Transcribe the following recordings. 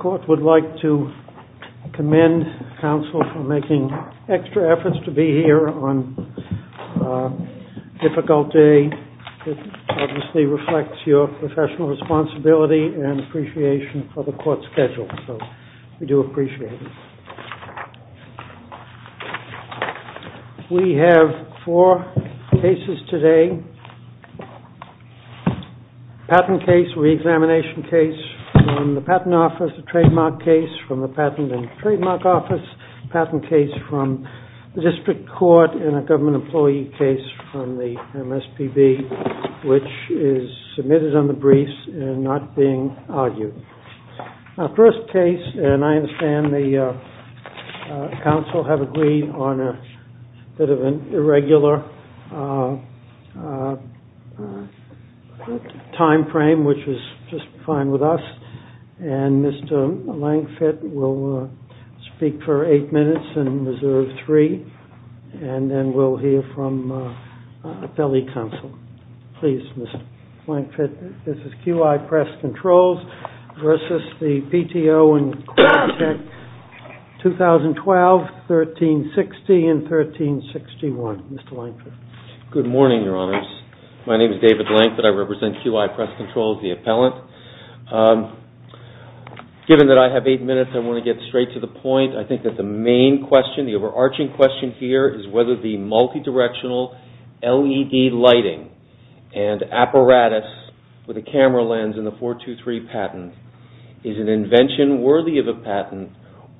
Court would like to commend counsel for making extra efforts to be here on a difficult day. It obviously reflects your professional responsibility and appreciation for the court schedule, so we do appreciate it. We have four cases today. Patent case, reexamination case from the Patent Office, a trademark case from the Patent and Trademark Office, patent case from the District Court, and a government employee case from the MSPB, which is submitted on the briefs and not being argued. Our first case, and I understand the counsel have agreed on a bit of an irregular time frame, which is just fine with us, and Mr. Lankfitt will speak for eight minutes and reserve three, and then we'll hear from appellee counsel. Please, Mr. Lankfitt. This is Q.I. Press Controls v. the PTO and Qualtech 2012, 1360 and 1361. Mr. Lankfitt. Good morning, Your Honors. My name is David Lankfitt. I represent Q.I. Press Controls, the appellant. Given that I have eight minutes, I want to get straight to the point. I think that the main question, the overarching question here is whether the multidirectional LED lighting and apparatus with a camera lens in the 423 patent is an invention worthy of a patent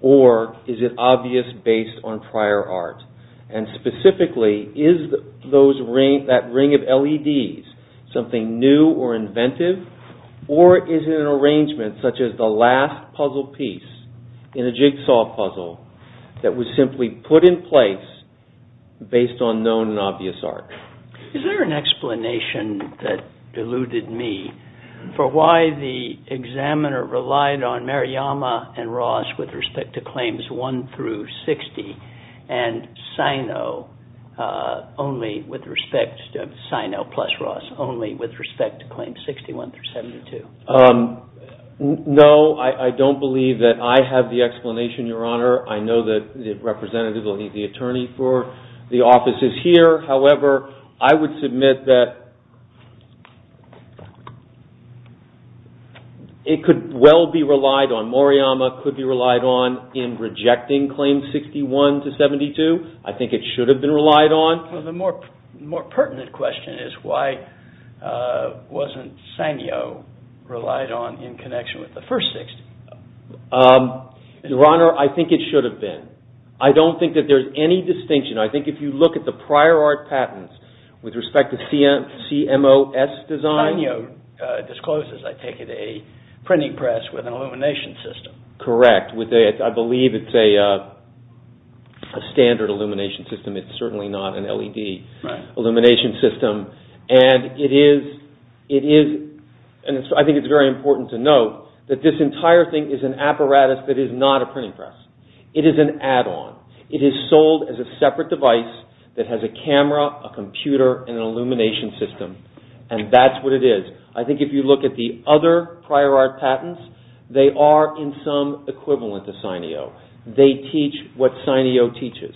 or is it obvious based on prior art. Specifically, is that ring of LEDs something new or inventive, or is it an arrangement such as the last puzzle piece in a jigsaw puzzle that was simply put in place based on known and obvious art. Is there an explanation that eluded me for why the examiner relied on Mariyama and Ross with respect to claims 1 through 60 and Sino plus Ross only with respect to claims 61 through 72? No, I don't believe that I have the explanation, Your Honor. I know that the representative, the attorney for the office is here. However, I would submit that it could well be relied on. Mariyama could be relied on in rejecting claims 61 to 72. I think it should have been relied on. The more pertinent question is why wasn't Sino relied on in connection with the first 60? Your Honor, I think it should have been. I don't think that there's any distinction. I think if you look at the prior art patents with respect to CMOS design. Sino discloses, I take it, a printing press with an illumination system. Correct. I believe it's a standard illumination system. It's certainly not an LED illumination system. I think it's very important to note that this entire thing is an apparatus that is not a printing press. It is an add-on. It is sold as a separate device that has a camera, a computer, and an illumination system, and that's what it is. I think if you look at the other prior art patents, they are in some equivalent to Sino. They teach what Sino teaches.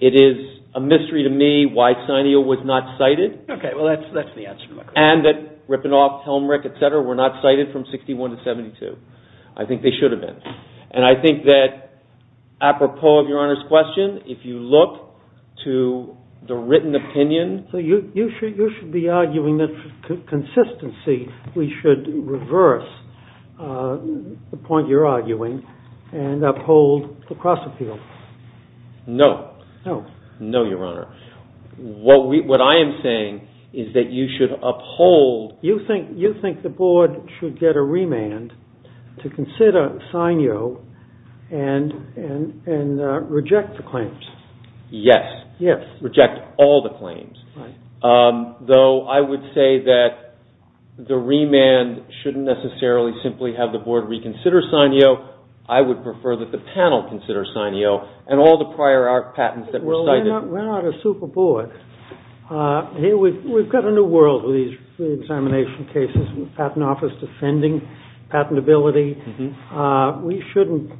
It is a mystery to me why Sino was not cited. Okay, well, that's the answer to my question. And that Rippenhoff, Helmrich, etc. were not cited from 61 to 72. I think they should have been. And I think that, apropos of Your Honor's question, if you look to the written opinion— So you should be arguing that, for consistency, we should reverse the point you're arguing and uphold the cross-appeal. No. No. No, Your Honor. What I am saying is that you should uphold— You think the board should get a remand to consider Sino and reject the claims. Yes. Yes. Reject all the claims. Right. Though I would say that the remand shouldn't necessarily simply have the board reconsider Sino. I would prefer that the panel consider Sino and all the prior art patents that were cited. Well, we're not a super board. We've got a new world with these examination cases and the Patent Office defending patentability. We shouldn't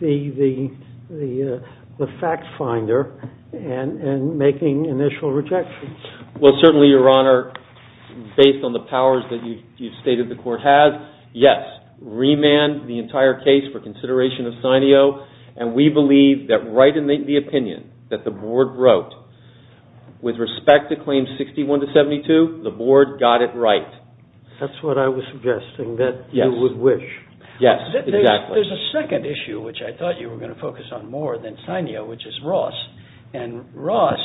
be the fact finder and making initial rejections. Well, certainly, Your Honor, based on the powers that you've stated the court has, yes, remand the entire case for consideration of Sino. And we believe that right in the opinion that the board wrote, with respect to claims 61 to 72, the board got it right. That's what I was suggesting, that you would wish. Yes. Exactly. There's a second issue, which I thought you were going to focus on more than Sino, which is Ross. And Ross,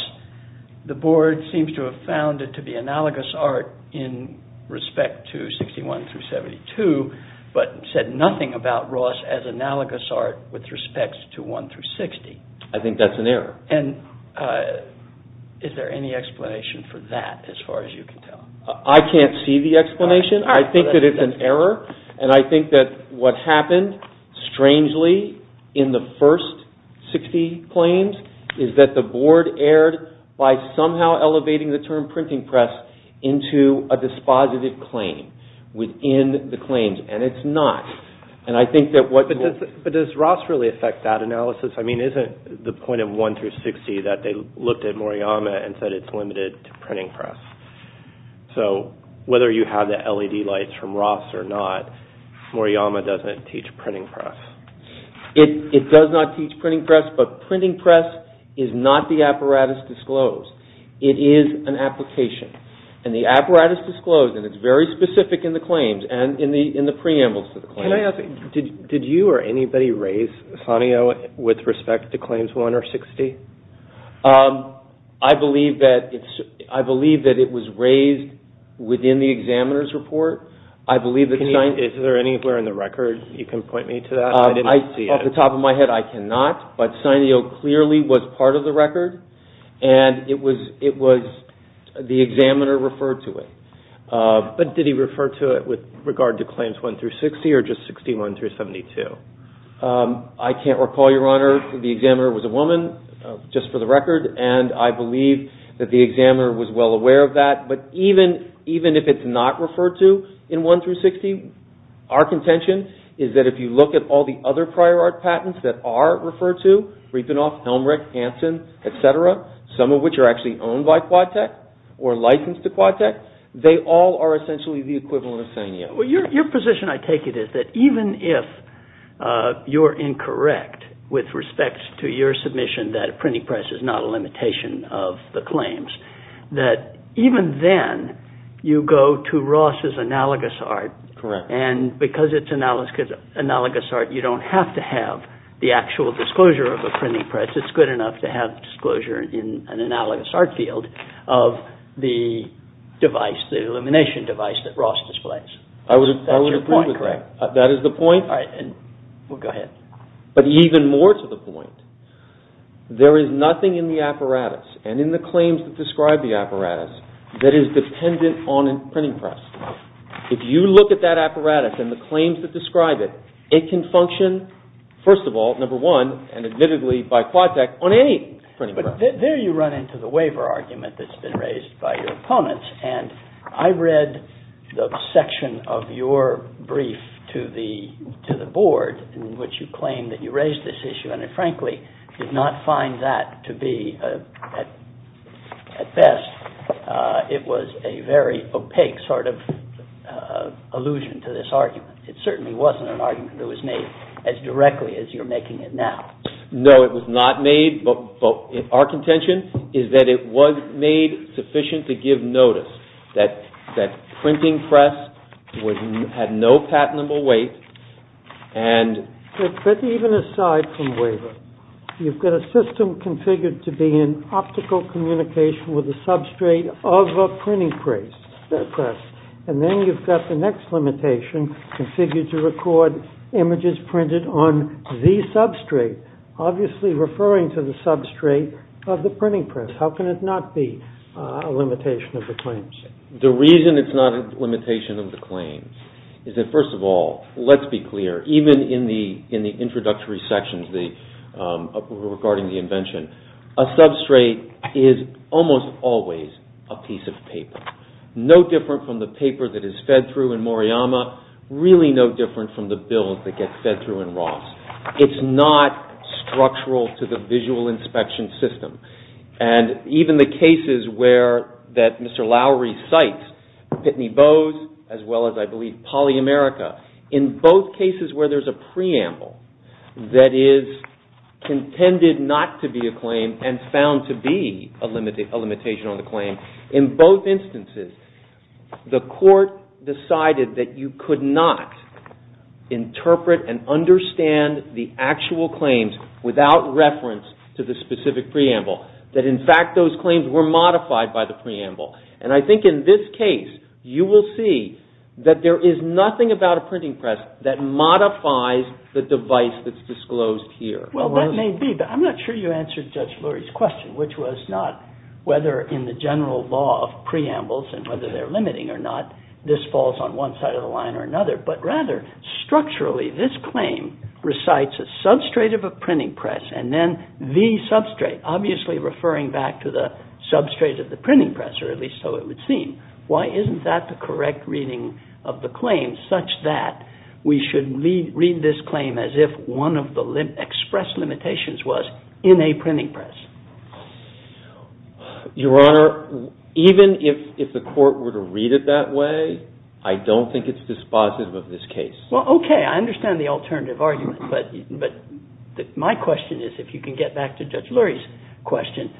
the board seems to have found it to be analogous art in respect to 61 through 72, but said nothing about Ross as analogous art with respect to 1 through 60. I think that's an error. And is there any explanation for that as far as you can tell? I can't see the explanation. I think that it's an error. And I think that what happened, strangely, in the first 60 claims is that the board erred by somehow elevating the term printing press into a dispositive claim within the claims. And it's not. But does Ross really affect that analysis? I mean, isn't the point of 1 through 60 that they looked at Moriyama and said it's limited to printing press? So whether you have the LED lights from Ross or not, Moriyama doesn't teach printing press. It does not teach printing press, but printing press is not the apparatus disclosed. It is an application. And the apparatus disclosed, and it's very specific in the claims and in the preambles to the claims. Can I ask, did you or anybody raise Sanio with respect to claims 1 or 60? I believe that it was raised within the examiner's report. Is there any where in the record you can point me to that? I didn't see it. Off the top of my head, I cannot. But Sanio clearly was part of the record, and it was the examiner referred to it. But did he refer to it with regard to claims 1 through 60 or just 61 through 72? I can't recall, Your Honor. The examiner was a woman, just for the record, and I believe that the examiner was well aware of that. But even if it's not referred to in 1 through 60, our contention is that if you look at all the other prior art patents that are referred to, Riefenhoff, Helmreich, Hansen, et cetera, some of which are actually owned by QuadTech or licensed to QuadTech, they all are essentially the equivalent of Sanio. Your position, I take it, is that even if you're incorrect with respect to your submission that a printing press is not a limitation of the claims, that even then you go to Ross's analogous art, and because it's analogous art, you don't have to have the actual disclosure of a printing press. Unless it's good enough to have disclosure in an analogous art field of the device, the illumination device that Ross displays. I would agree with that. That's your point, correct? That is the point. All right, and go ahead. But even more to the point, there is nothing in the apparatus and in the claims that describe the apparatus that is dependent on a printing press. If you look at that apparatus and the claims that describe it, it can function, first of all, number one, and admittedly by QuadTech, on any printing press. There you run into the waiver argument that's been raised by your opponents, and I read the section of your brief to the board in which you claimed that you raised this issue, and I frankly did not find that to be, at best, it was a very opaque sort of allusion to this argument. It certainly wasn't an argument that was made as directly as you're making it now. No, it was not made, but our contention is that it was made sufficient to give notice that that printing press had no patentable weight, and But even aside from waiver, you've got a system configured to be an optical communication with a substrate of a printing press, and then you've got the next limitation configured to record images printed on the substrate, obviously referring to the substrate of the printing press. How can it not be a limitation of the claims? The reason it's not a limitation of the claims is that, first of all, let's be clear, even in the introductory sections regarding the invention, a substrate is almost always a piece of paper. No different from the paper that is fed through in Moriyama, really no different from the bills that get fed through in Ross. It's not structural to the visual inspection system. And even the cases that Mr. Lowery cites, Pitney Bowes, as well as, I believe, PolyAmerica, in both cases where there's a preamble that is contended not to be a claim and found to be a limitation on the claim, in both instances, the Court decided that you could not interpret and understand the actual claims without reference to the specific preamble. That, in fact, those claims were modified by the preamble. And I think in this case, you will see that there is nothing about a printing press that modifies the device that's disclosed here. Well, that may be, but I'm not sure you answered Judge Lowery's question, which was not whether in the general law of preambles and whether they're limiting or not, this falls on one side of the line or another, but rather, structurally, this claim recites a substrate of a printing press and then the substrate, obviously referring back to the substrate of the printing press, or at least so it would seem. Why isn't that the correct reading of the claim such that we should read this claim as if one of the express limitations was in a printing press? Your Honor, even if the Court were to read it that way, I don't think it's dispositive of this case. Well, okay, I understand the alternative argument, but my question is, if you can get back to Judge Lowery's question,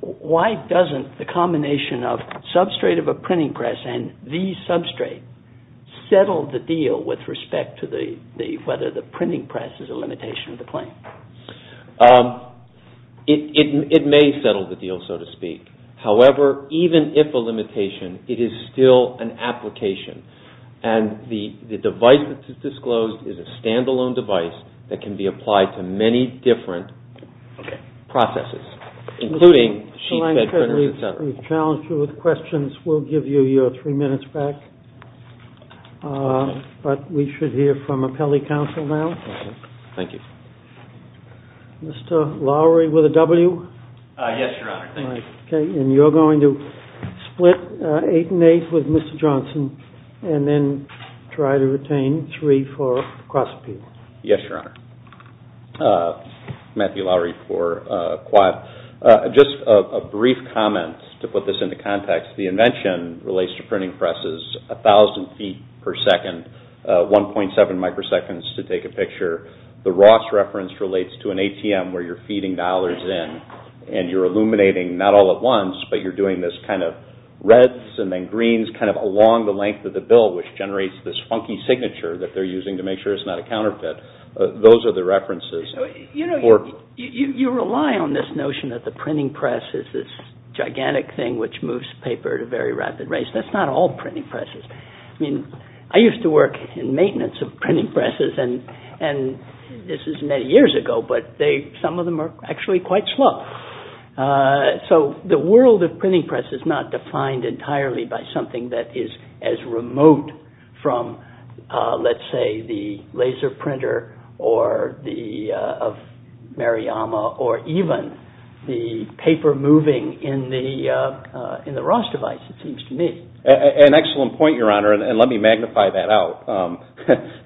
why doesn't the combination of substrate of a printing press and the substrate settle the deal with respect to whether the printing press is a limitation of the claim? It may settle the deal, so to speak. However, even if a limitation, it is still an application, and the device that's disclosed is a standalone device that can be applied to many different processes. Mr. Lankford, we've challenged you with questions. We'll give you your three minutes back, but we should hear from appellee counsel now. Thank you. Mr. Lowery with a W? Yes, Your Honor. Thank you. Okay, and you're going to split eight and eight with Mr. Johnson and then try to retain three for cross-appeal. Yes, Your Honor. Matthew Lowery for Quad. Just a brief comment to put this into context. The invention relates to printing presses 1,000 feet per second, 1.7 microseconds to take a picture. The Ross reference relates to an ATM where you're feeding dollars in, and you're illuminating not all at once, but you're doing this kind of reds and then greens kind of along the length of the bill, which generates this funky signature that they're using to make sure it's not a counterfeit. Those are the references. You know, you rely on this notion that the printing press is this gigantic thing which moves paper at a very rapid rate. That's not all printing presses. I mean, I used to work in maintenance of printing presses, and this is many years ago, but some of them are actually quite slow. So the world of printing press is not defined entirely by something that is as remote from, let's say, the laser printer of Mariyama or even the paper moving in the Ross device, it seems to me. An excellent point, Your Honor, and let me magnify that out. I'm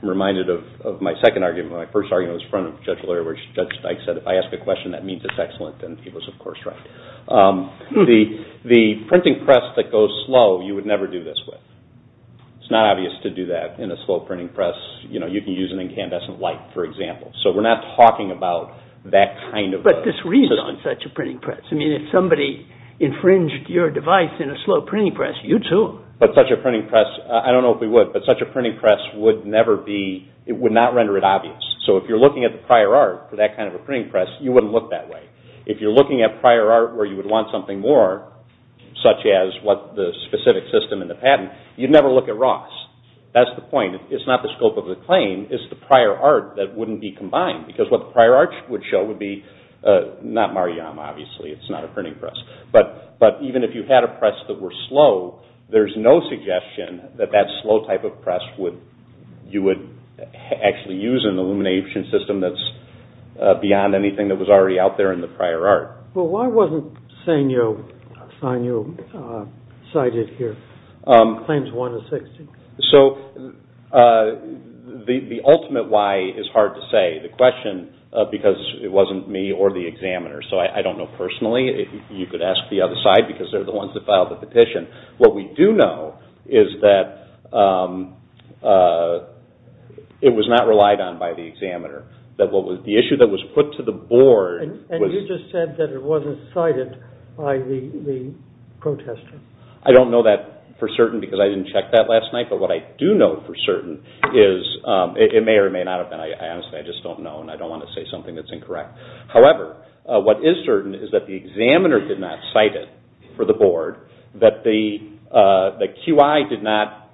reminded of my second argument. My first argument was in front of Judge Leir where Judge Stein said, if I ask a question that means it's excellent, then he was, of course, right. The printing press that goes slow, you would never do this with. It's not obvious to do that in a slow printing press. You know, you can use an incandescent light, for example. So we're not talking about that kind of a… But this reads on such a printing press. I mean, if somebody infringed your device in a slow printing press, you'd sue them. But such a printing press, I don't know if we would, but such a printing press would never be, it would not render it obvious. So if you're looking at the prior art for that kind of a printing press, you wouldn't look that way. If you're looking at prior art where you would want something more, such as the specific system in the patent, you'd never look at Ross. That's the point. It's not the scope of the claim. It's the prior art that wouldn't be combined. Because what the prior art would show would be, not Mar-a-Yam, obviously. It's not a printing press. But even if you had a press that were slow, there's no suggestion that that slow type of press you would actually use an illumination system that's beyond anything that was already out there in the prior art. Well, why wasn't Sanyo cited here? Claims 1 of 60. So the ultimate why is hard to say. The question, because it wasn't me or the examiner, so I don't know personally. You could ask the other side because they're the ones that filed the petition. What we do know is that it was not relied on by the examiner. The issue that was put to the board... And you just said that it wasn't cited by the protester. I don't know that for certain because I didn't check that last night. But what I do know for certain is, it may or may not have been. I honestly just don't know and I don't want to say something that's incorrect. However, what is certain is that the examiner did not cite it for the board, that QI did not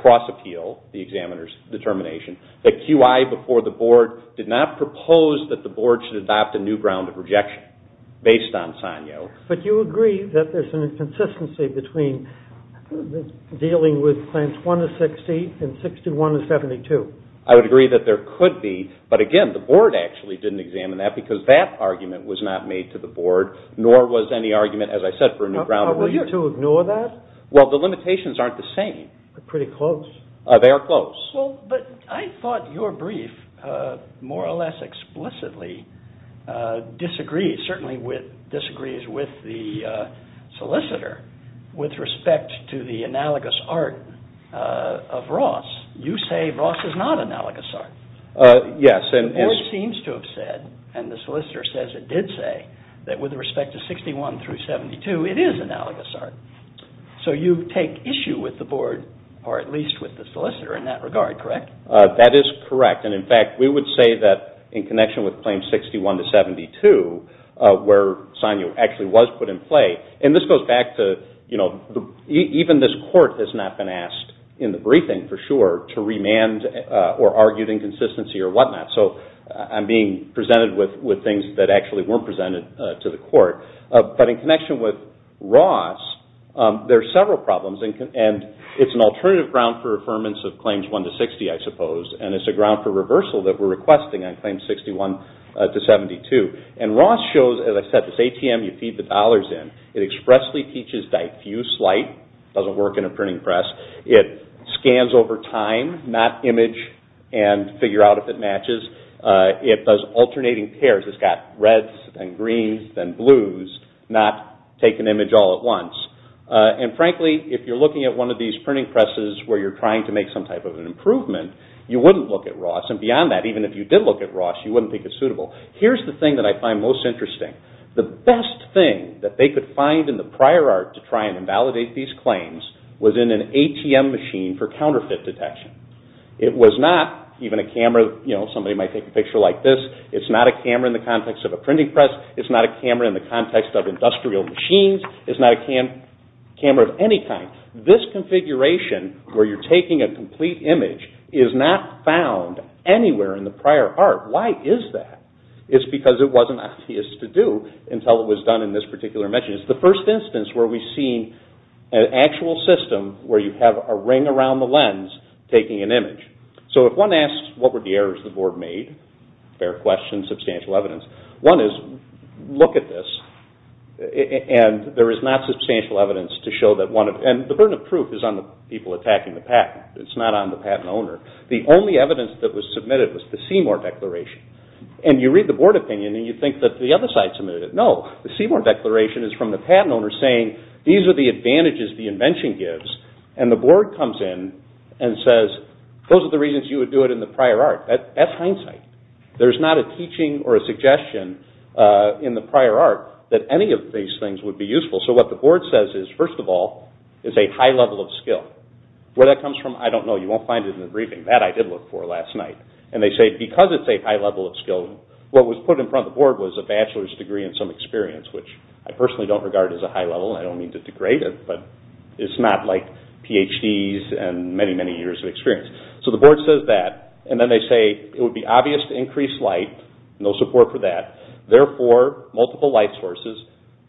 cross-appeal the examiner's determination, that QI before the board did not propose that the board should adopt a new ground of rejection based on Sanyo. But you agree that there's an inconsistency between dealing with claims 1 of 60 and 61 of 72. I would agree that there could be, but again, the board actually didn't examine that because that argument was not made to the board, nor was any argument, as I said, for a new ground of rejection. How will you two ignore that? Well, the limitations aren't the same. They're pretty close. They are close. But I thought your brief more or less explicitly disagrees, certainly disagrees with the solicitor with respect to the analogous art of Ross. You say Ross is not analogous art. Yes. The board seems to have said, and the solicitor says it did say, that with respect to 61 through 72, it is analogous art. So you take issue with the board, or at least with the solicitor in that regard, correct? That is correct. And in fact, we would say that in connection with claims 61 to 72, where Sanyo actually was put in play, and this goes back to even this court has not been asked in the briefing, for sure, to remand or argued inconsistency or whatnot. So I'm being presented with things that actually weren't presented to the court. But in connection with Ross, there are several problems, and it's an alternative ground for affirmance of claims 1 to 60, I suppose, and it's a ground for reversal that we're requesting on claims 61 to 72. And Ross shows, as I said, this ATM you feed the dollars in. It expressly teaches diffuse light. It doesn't work in a printing press. It scans over time, not image, and figure out if it matches. It does alternating pairs. It's got reds and greens and blues, not take an image all at once. And frankly, if you're looking at one of these printing presses where you're trying to make some type of an improvement, you wouldn't look at Ross. And beyond that, even if you did look at Ross, you wouldn't think it's suitable. Here's the thing that I find most interesting. The best thing that they could find in the prior art to try and invalidate these claims was in an ATM machine for counterfeit detection. It was not even a camera. Somebody might take a picture like this. It's not a camera in the context of a printing press. It's not a camera in the context of industrial machines. It's not a camera of any kind. This configuration where you're taking a complete image is not found anywhere in the prior art. Why is that? It's because it wasn't obvious to do until it was done in this particular machine. It's the first instance where we've seen an actual system where you have a ring around the lens taking an image. So if one asks, what were the errors the board made? Fair question, substantial evidence. One is, look at this, and there is not substantial evidence to show that one of... And the burden of proof is on the people attacking the patent. It's not on the patent owner. The only evidence that was submitted was the Seymour Declaration. And you read the board opinion and you think that the other side submitted it. No, the Seymour Declaration is from the patent owner saying these are the advantages the invention gives. And the board comes in and says, those are the reasons you would do it in the prior art. That's hindsight. There's not a teaching or a suggestion in the prior art that any of these things would be useful. So what the board says is, first of all, is a high level of skill. Where that comes from, I don't know. You won't find it in the briefing. That I did look for last night. And they say, because it's a high level of skill, what was put in front of the board was a bachelor's degree and some experience, which I personally don't regard as a high level. I don't mean to degrade it, but it's not like Ph.D.'s and many, many years of experience. So the board says that, and then they say, it would be obvious to increase light. No support for that. Therefore, multiple light sources.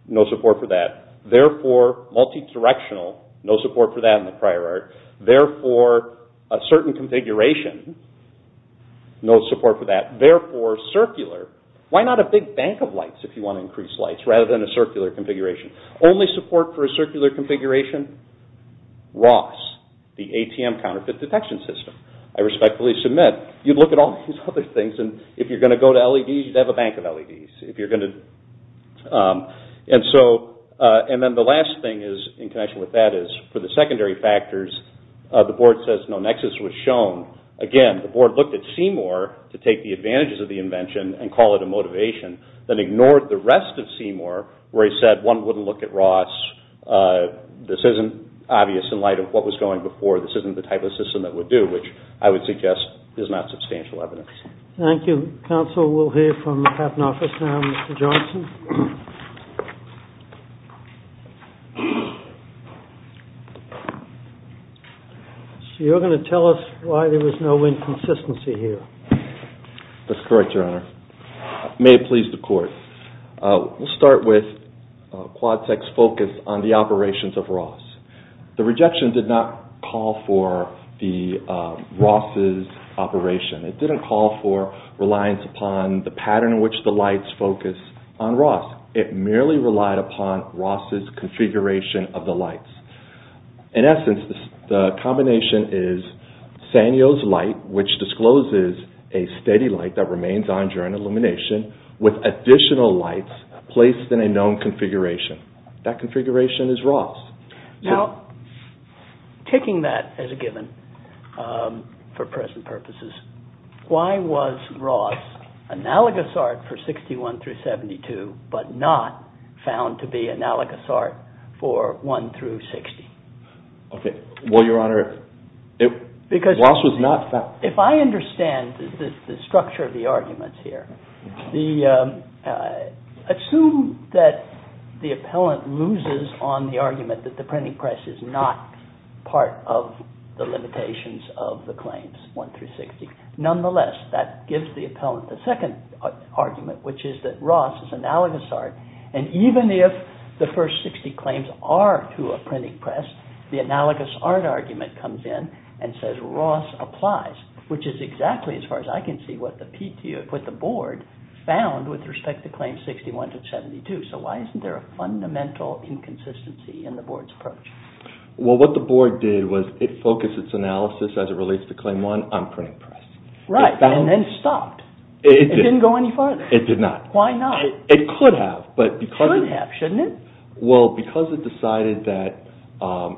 No support for that. Therefore, multi-directional. No support for that in the prior art. Therefore, a certain configuration. No support for that. Therefore, circular. Why not a big bank of lights if you want to increase lights, rather than a circular configuration? Only support for a circular configuration, ROS, the ATM Counterfeit Detection System. I respectfully submit, you'd look at all these other things, and if you're going to go to LEDs, you'd have a bank of LEDs. And then the last thing in connection with that is, for the secondary factors, the board says no nexus was shown. Again, the board looked at Seymour to take the advantages of the invention and call it a motivation, then ignored the rest of Seymour, where he said one wouldn't look at ROS. This isn't obvious in light of what was going before. This isn't the type of system that would do, which I would suggest is not substantial evidence. Thank you. Counsel will hear from the patent office now. Mr. Johnson? So you're going to tell us why there was no inconsistency here. That's correct, Your Honor. May it please the Court. We'll start with QuadSec's focus on the operations of ROS. The rejection did not call for the ROS's operation. It didn't call for reliance upon the pattern in which the lights focus on ROS. It merely relied upon ROS's configuration of the lights. In essence, the combination is Sanyo's light, which discloses a steady light that remains on during illumination with additional lights placed in a known configuration. That configuration is ROS. Now, taking that as a given for present purposes, why was ROS analogous art for 61 through 72 but not found to be analogous art for 1 through 60? Okay. Well, Your Honor, ROS was not found. If I understand the structure of the arguments here, assume that the appellant loses on the argument that the printing press is not part of the limitations of the claims, 1 through 60. Nonetheless, that gives the appellant the second argument, which is that ROS is analogous art, and even if the first 60 claims are to a printing press, the analogous art argument comes in and says ROS applies, which is exactly, as far as I can see, what the board found with respect to claims 61 through 72. So why isn't there a fundamental inconsistency in the board's approach? Well, what the board did was it focused its analysis as it relates to claim 1 on printing press. Right, and then stopped. It didn't go any farther. It did not. Why not? It could have. It should have, shouldn't it? Well, because it decided that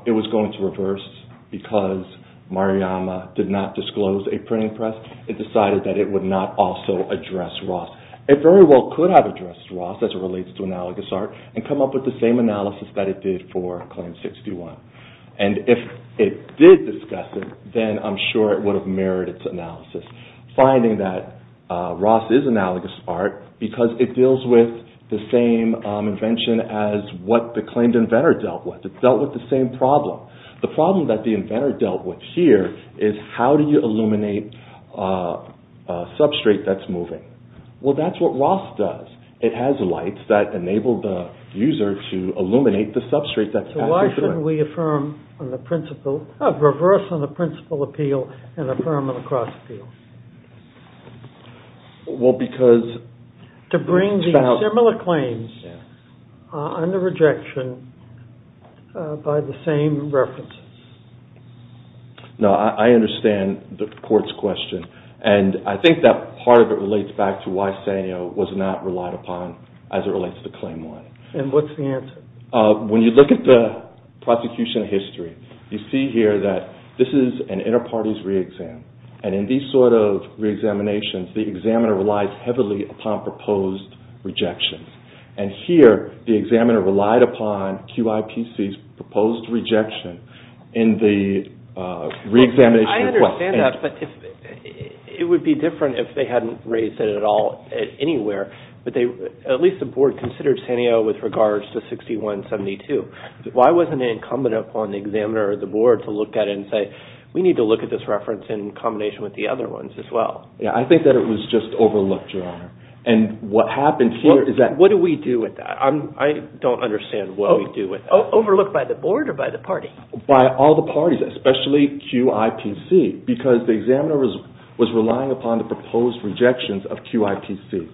it was going to reverse because Maruyama did not disclose a printing press, it decided that it would not also address ROS. It very well could have addressed ROS as it relates to analogous art and come up with the same analysis that it did for claim 61. It's finding that ROS is analogous art because it deals with the same invention as what the claimed inventor dealt with. It dealt with the same problem. The problem that the inventor dealt with here is how do you illuminate a substrate that's moving? Well, that's what ROS does. It has lights that enable the user to illuminate the substrate that's passing through it. So why shouldn't we reverse on the principal appeal and affirm on the cross appeal? Well, because... To bring these similar claims under rejection by the same references. No, I understand the court's question, and I think that part of it relates back to why Sanyo was not relied upon as it relates to claim one. And what's the answer? When you look at the prosecution history, you see here that this is an inter-parties re-exam. And in these sort of re-examinations, the examiner relies heavily upon proposed rejections. And here, the examiner relied upon QIPC's proposed rejection in the re-examination. I understand that, but it would be different if they hadn't raised it at all anywhere. At least the board considered Sanyo with regards to 6172. Why wasn't it incumbent upon the examiner or the board to look at it and say, we need to look at this reference in combination with the other ones as well? Yeah, I think that it was just overlooked, Your Honor. And what happened here is that... What do we do with that? I don't understand what we do with that. Overlooked by the board or by the party? By all the parties, especially QIPC, because the examiner was relying upon the proposed rejections of QIPC.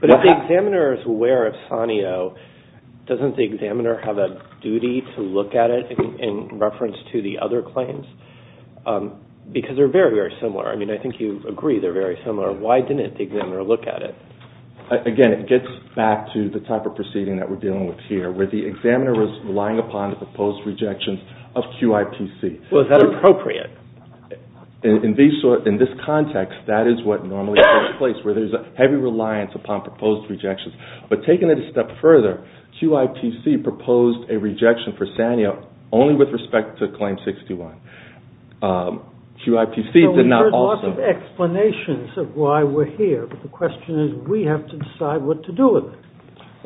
But if the examiner is aware of Sanyo, doesn't the examiner have a duty to look at it in reference to the other claims? Because they're very, very similar. I mean, I think you agree they're very similar. Why didn't the examiner look at it? Again, it gets back to the type of proceeding that we're dealing with here, where the examiner was relying upon the proposed rejections of QIPC. Well, is that appropriate? In this context, that is what normally takes place, where there's a heavy reliance upon proposed rejections. But taking it a step further, QIPC proposed a rejection for Sanyo only with respect to Claim 61. QIPC did not also... Well, we've heard lots of explanations of why we're here, but the question is we have to decide what to do with it.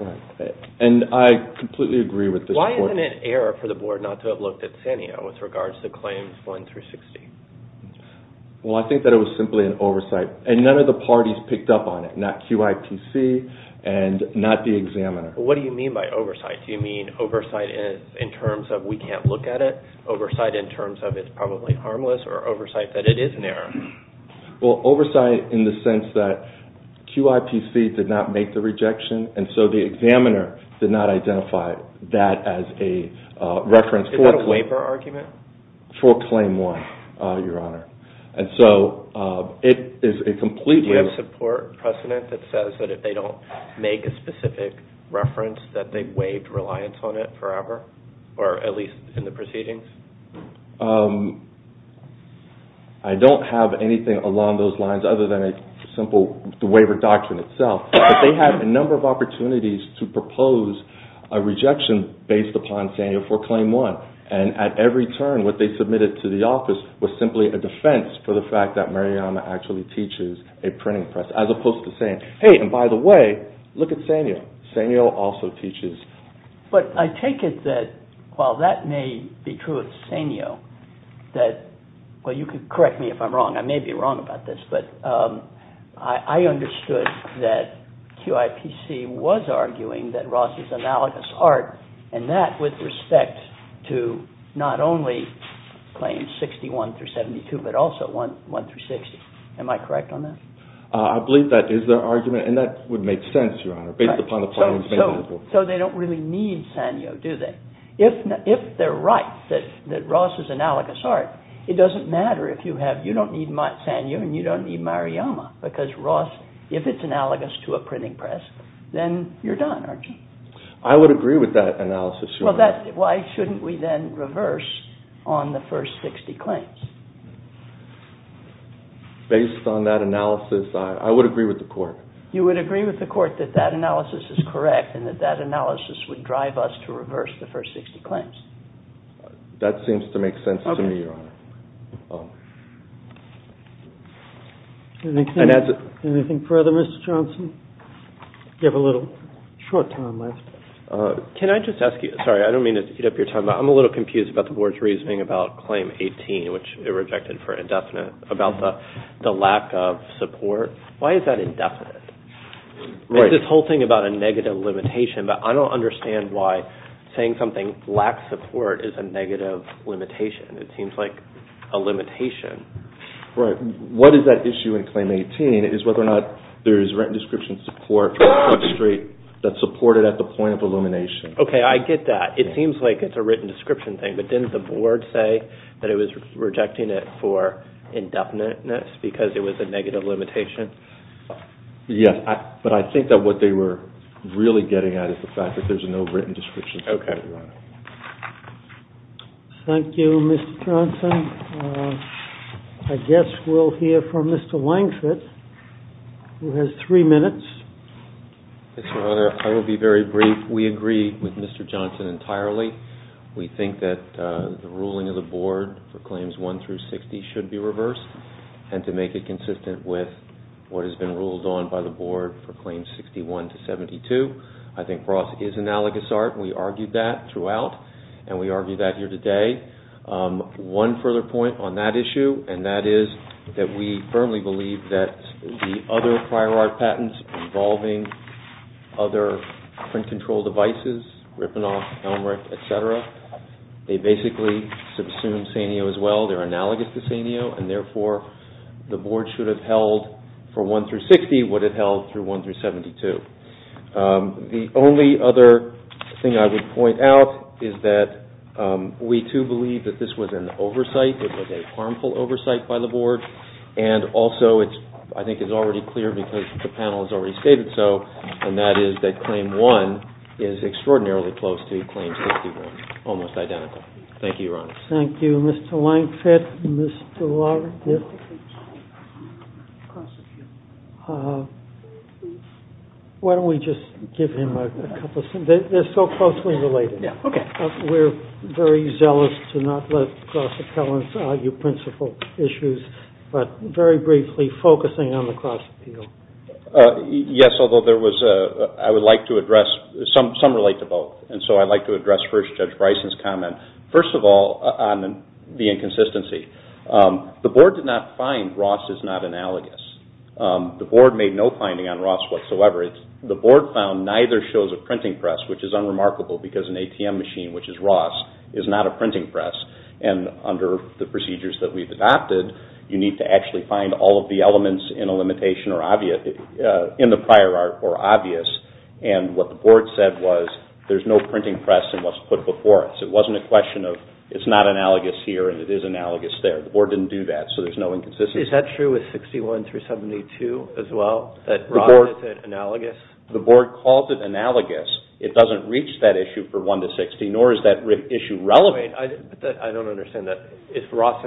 Right. And I completely agree with this point. Why is it an error for the board not to have looked at Sanyo with regards to Claims 1 through 60? Well, I think that it was simply an oversight, and none of the parties picked up on it, not QIPC and not the examiner. What do you mean by oversight? Do you mean oversight in terms of we can't look at it, oversight in terms of it's probably harmless, or oversight that it is an error? Well, oversight in the sense that QIPC did not make the rejection, and so the examiner did not identify that as a reference for... Is that a waiver argument? For Claim 1, Your Honor. And so it is a completely... Do you have support precedent that says that if they don't make a specific reference that they've waived reliance on it forever, or at least in the proceedings? I don't have anything along those lines other than a simple waiver doctrine itself. But they had a number of opportunities to propose a rejection based upon Sanyo for Claim 1, and at every turn what they submitted to the office was simply a defense for the fact that Marijana actually teaches a printing press, as opposed to saying, hey, and by the way, look at Sanyo. Sanyo also teaches... But I take it that while that may be true of Sanyo, that, well, you can correct me if I'm wrong, I may be wrong about this, but I understood that QIPC was arguing that Ross is analogous art, and that with respect to not only Claims 61 through 72, but also 1 through 60. Am I correct on that? I believe that is their argument, and that would make sense, Your Honor, based upon the findings made in the book. So they don't really need Sanyo, do they? If they're right that Ross is analogous art, it doesn't matter if you don't need Sanyo and you don't need Marijana, because Ross, if it's analogous to a printing press, then you're done, aren't you? I would agree with that analysis, Your Honor. Why shouldn't we then reverse on the first 60 claims? Based on that analysis, I would agree with the Court. You would agree with the Court that that analysis is correct and that that analysis would drive us to reverse the first 60 claims? That seems to make sense to me, Your Honor. Anything further, Mr. Johnson? You have a little short time left. Can I just ask you, sorry, I don't mean to eat up your time, but I'm a little confused about the Board's reasoning about Claim 18, which it rejected for indefinite, about the lack of support. Why is that indefinite? Right. There's this whole thing about a negative limitation, but I don't understand why saying something lacks support is a negative limitation. It seems like a limitation. Right. What is that issue in Claim 18 is whether or not there is written description support for a claim straight that's supported at the point of elimination. Okay, I get that. It seems like it's a written description thing, but didn't the Board say that it was rejecting it for indefiniteness because it was a negative limitation? Yes, but I think that what they were really getting at is the fact that there's no written description support. Okay. Thank you, Mr. Johnson. I guess we'll hear from Mr. Langford, who has three minutes. Yes, Your Honor. I will be very brief. We agree with Mr. Johnson entirely. We think that the ruling of the Board for Claims 1 through 60 should be reversed and to make it consistent with what has been ruled on by the Board for Claims 61 to 72. I think Ross is analogous, Art, and we argued that throughout, and we argue that here today. One further point on that issue, and that is that we firmly believe that the other prior art patents involving other print control devices, Ripponoff, Elmerick, et cetera, they basically subsume Saneo as well. They're analogous to Saneo, and therefore the Board should have held for 1 through 60 what it held through 1 through 72. The only other thing I would point out is that we, too, believe that this was an oversight, it was a harmful oversight by the Board, and also I think it's already clear because the panel has already stated so, and that is that Claim 1 is extraordinarily close to Claim 61, almost identical. Thank you, Your Honor. Thank you, Mr. Lankford. Mr. Larkin? Why don't we just give him a couple of sentences? They're so closely related. Yeah, okay. We're very zealous to not let cross-appellants argue principal issues, but very briefly focusing on the cross-appeal. Yes, although I would like to address, some relate to both, and so I'd like to address first Judge Bryson's comment. First of all, on the inconsistency, the Board did not find Ross is not analogous. The Board made no finding on Ross whatsoever. The Board found neither shows a printing press, which is unremarkable because an ATM machine, which is Ross, is not a printing press, and under the procedures that we've adopted, you need to actually find all of the elements in the prior art or obvious, and what the Board said was there's no printing press in what's put before it. So it wasn't a question of it's not analogous here and it is analogous there. The Board didn't do that, so there's no inconsistency. Is that true with 61 through 72 as well, that Ross is analogous? The Board called it analogous. It doesn't reach that issue for 1 to 60, nor is that issue relevant. Wait, I don't understand that. Is Ross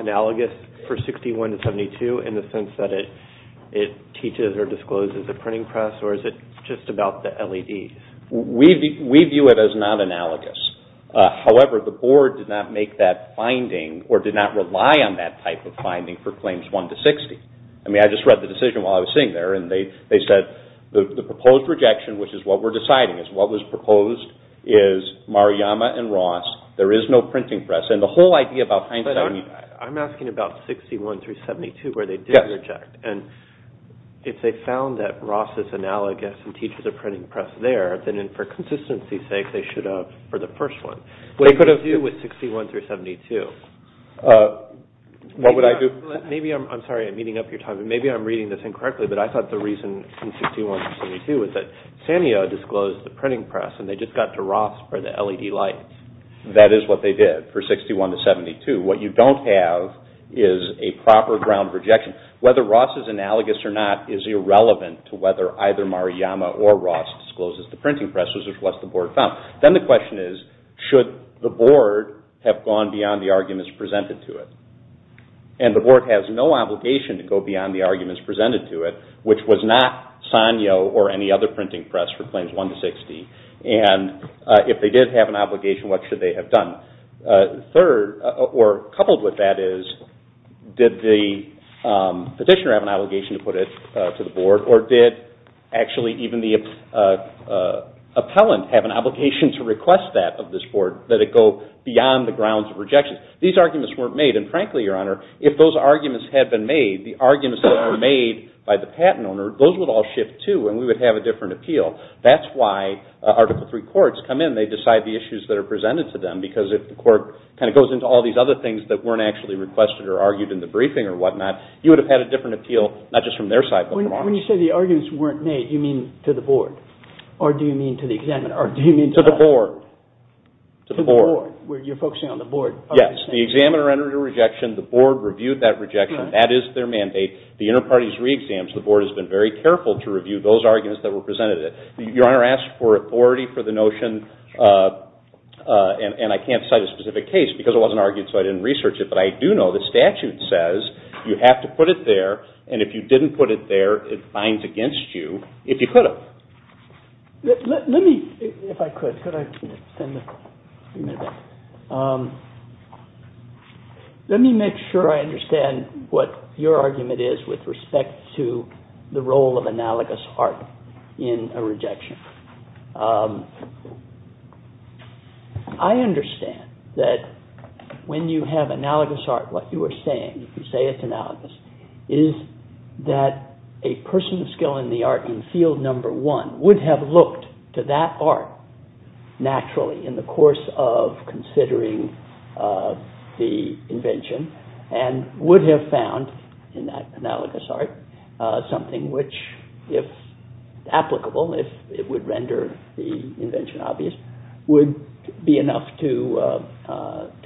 analogous for 61 to 72 in the sense that it teaches or discloses a printing press, or is it just about the LED? We view it as not analogous. However, the Board did not make that finding or did not rely on that type of finding for claims 1 to 60. I mean, I just read the decision while I was sitting there, and they said the proposed rejection, which is what we're deciding, is what was proposed is Maruyama and Ross. There is no printing press, and the whole idea about hindsight... But I'm asking about 61 through 72 where they did reject, and if they found that Ross is analogous and teaches a printing press there, then for consistency's sake they should have for the first one. What would you do with 61 through 72? What would I do? I'm sorry, I'm eating up your time. Maybe I'm reading this incorrectly, but I thought the reason in 61 through 72 is that Sanyo disclosed the printing press, and they just got to Ross for the LED light. That is what they did for 61 to 72. What you don't have is a proper ground of rejection. Whether Ross is analogous or not is irrelevant to whether either Maruyama or Ross discloses the printing press, which was what the Board found. Then the question is, should the Board have gone beyond the arguments presented to it? And the Board has no obligation to go beyond the arguments presented to it, which was not Sanyo or any other printing press for claims 1 to 60. And if they did have an obligation, what should they have done? Third, or coupled with that is, did the petitioner have an obligation to put it to the Board, or did actually even the appellant have an obligation to request that of this Board, that it go beyond the grounds of rejection? These arguments weren't made, and frankly, Your Honor, if those arguments had been made, the arguments that were made by the patent owner, those would all shift too, and we would have a different appeal. That's why Article III courts come in. They decide the issues that are presented to them, because if the court kind of goes into all these other things that weren't actually requested or argued in the briefing or whatnot, you would have had a different appeal, not just from their side, but from ours. When you say the arguments weren't made, you mean to the Board? Or do you mean to the examiner? To the Board. To the Board, where you're focusing on the Board? Yes, the examiner entered a rejection. The Board reviewed that rejection. That is their mandate. The inter-parties re-exams, the Board has been very careful to review those arguments that were presented. Your Honor asked for authority for the notion, and I can't cite a specific case because it wasn't argued, so I didn't research it, but I do know the statute says you have to put it there, and if you didn't put it there, it fines against you if you could have. Let me, if I could, could I extend the amendment? Let me make sure I understand what your argument is with respect to the role of analogous art in a rejection. I understand that when you have analogous art, what you are saying, if you say it's analogous, is that a person of skill in the art in field number one would have looked to that art naturally in the course of considering the invention and would have found in that analogous art something which, if applicable, if it would render the invention obvious, would be enough to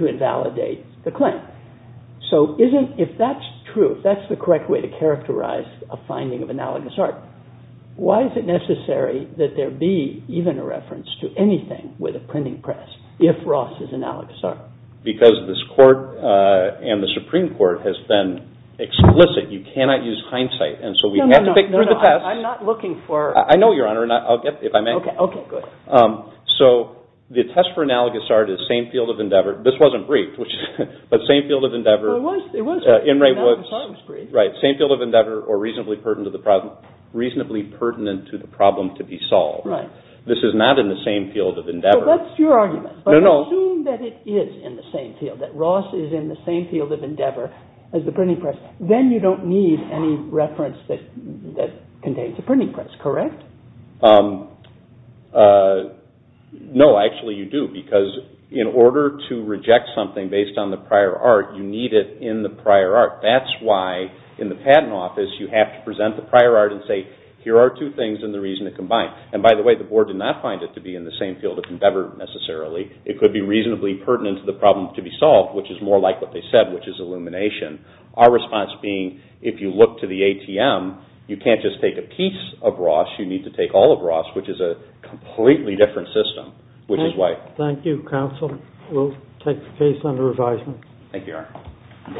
invalidate the claim. So if that's true, if that's the correct way to characterize a finding of analogous art, why is it necessary that there be even a reference to anything with a printing press if Ross is analogous art? Because this Court and the Supreme Court has been explicit. You cannot use hindsight, and so we have to pick through the test. No, no, no, I'm not looking for... I know, Your Honor, and I'll get, if I may. Okay, okay, good. So the test for analogous art is same field of endeavor. This wasn't briefed, but same field of endeavor. It was, it was. Same field of endeavor or reasonably pertinent to the problem to be solved. Right. This is not in the same field of endeavor. So that's your argument. No, no. But assume that it is in the same field, that Ross is in the same field of endeavor as the printing press. Then you don't need any reference that contains a printing press, correct? No, actually you do, because in order to reject something based on the prior art, you need it in the prior art. That's why, in the Patent Office, you have to present the prior art and say, here are two things and the reason to combine. And, by the way, the Board did not find it to be in the same field of endeavor necessarily. It could be reasonably pertinent to the problem to be solved, which is more like what they said, which is illumination. Our response being, if you look to the ATM, you can't just take a piece of Ross. You need to take all of Ross, which is a completely different system, which is why. We'll take the case under advisement. Thank you, Your Honor.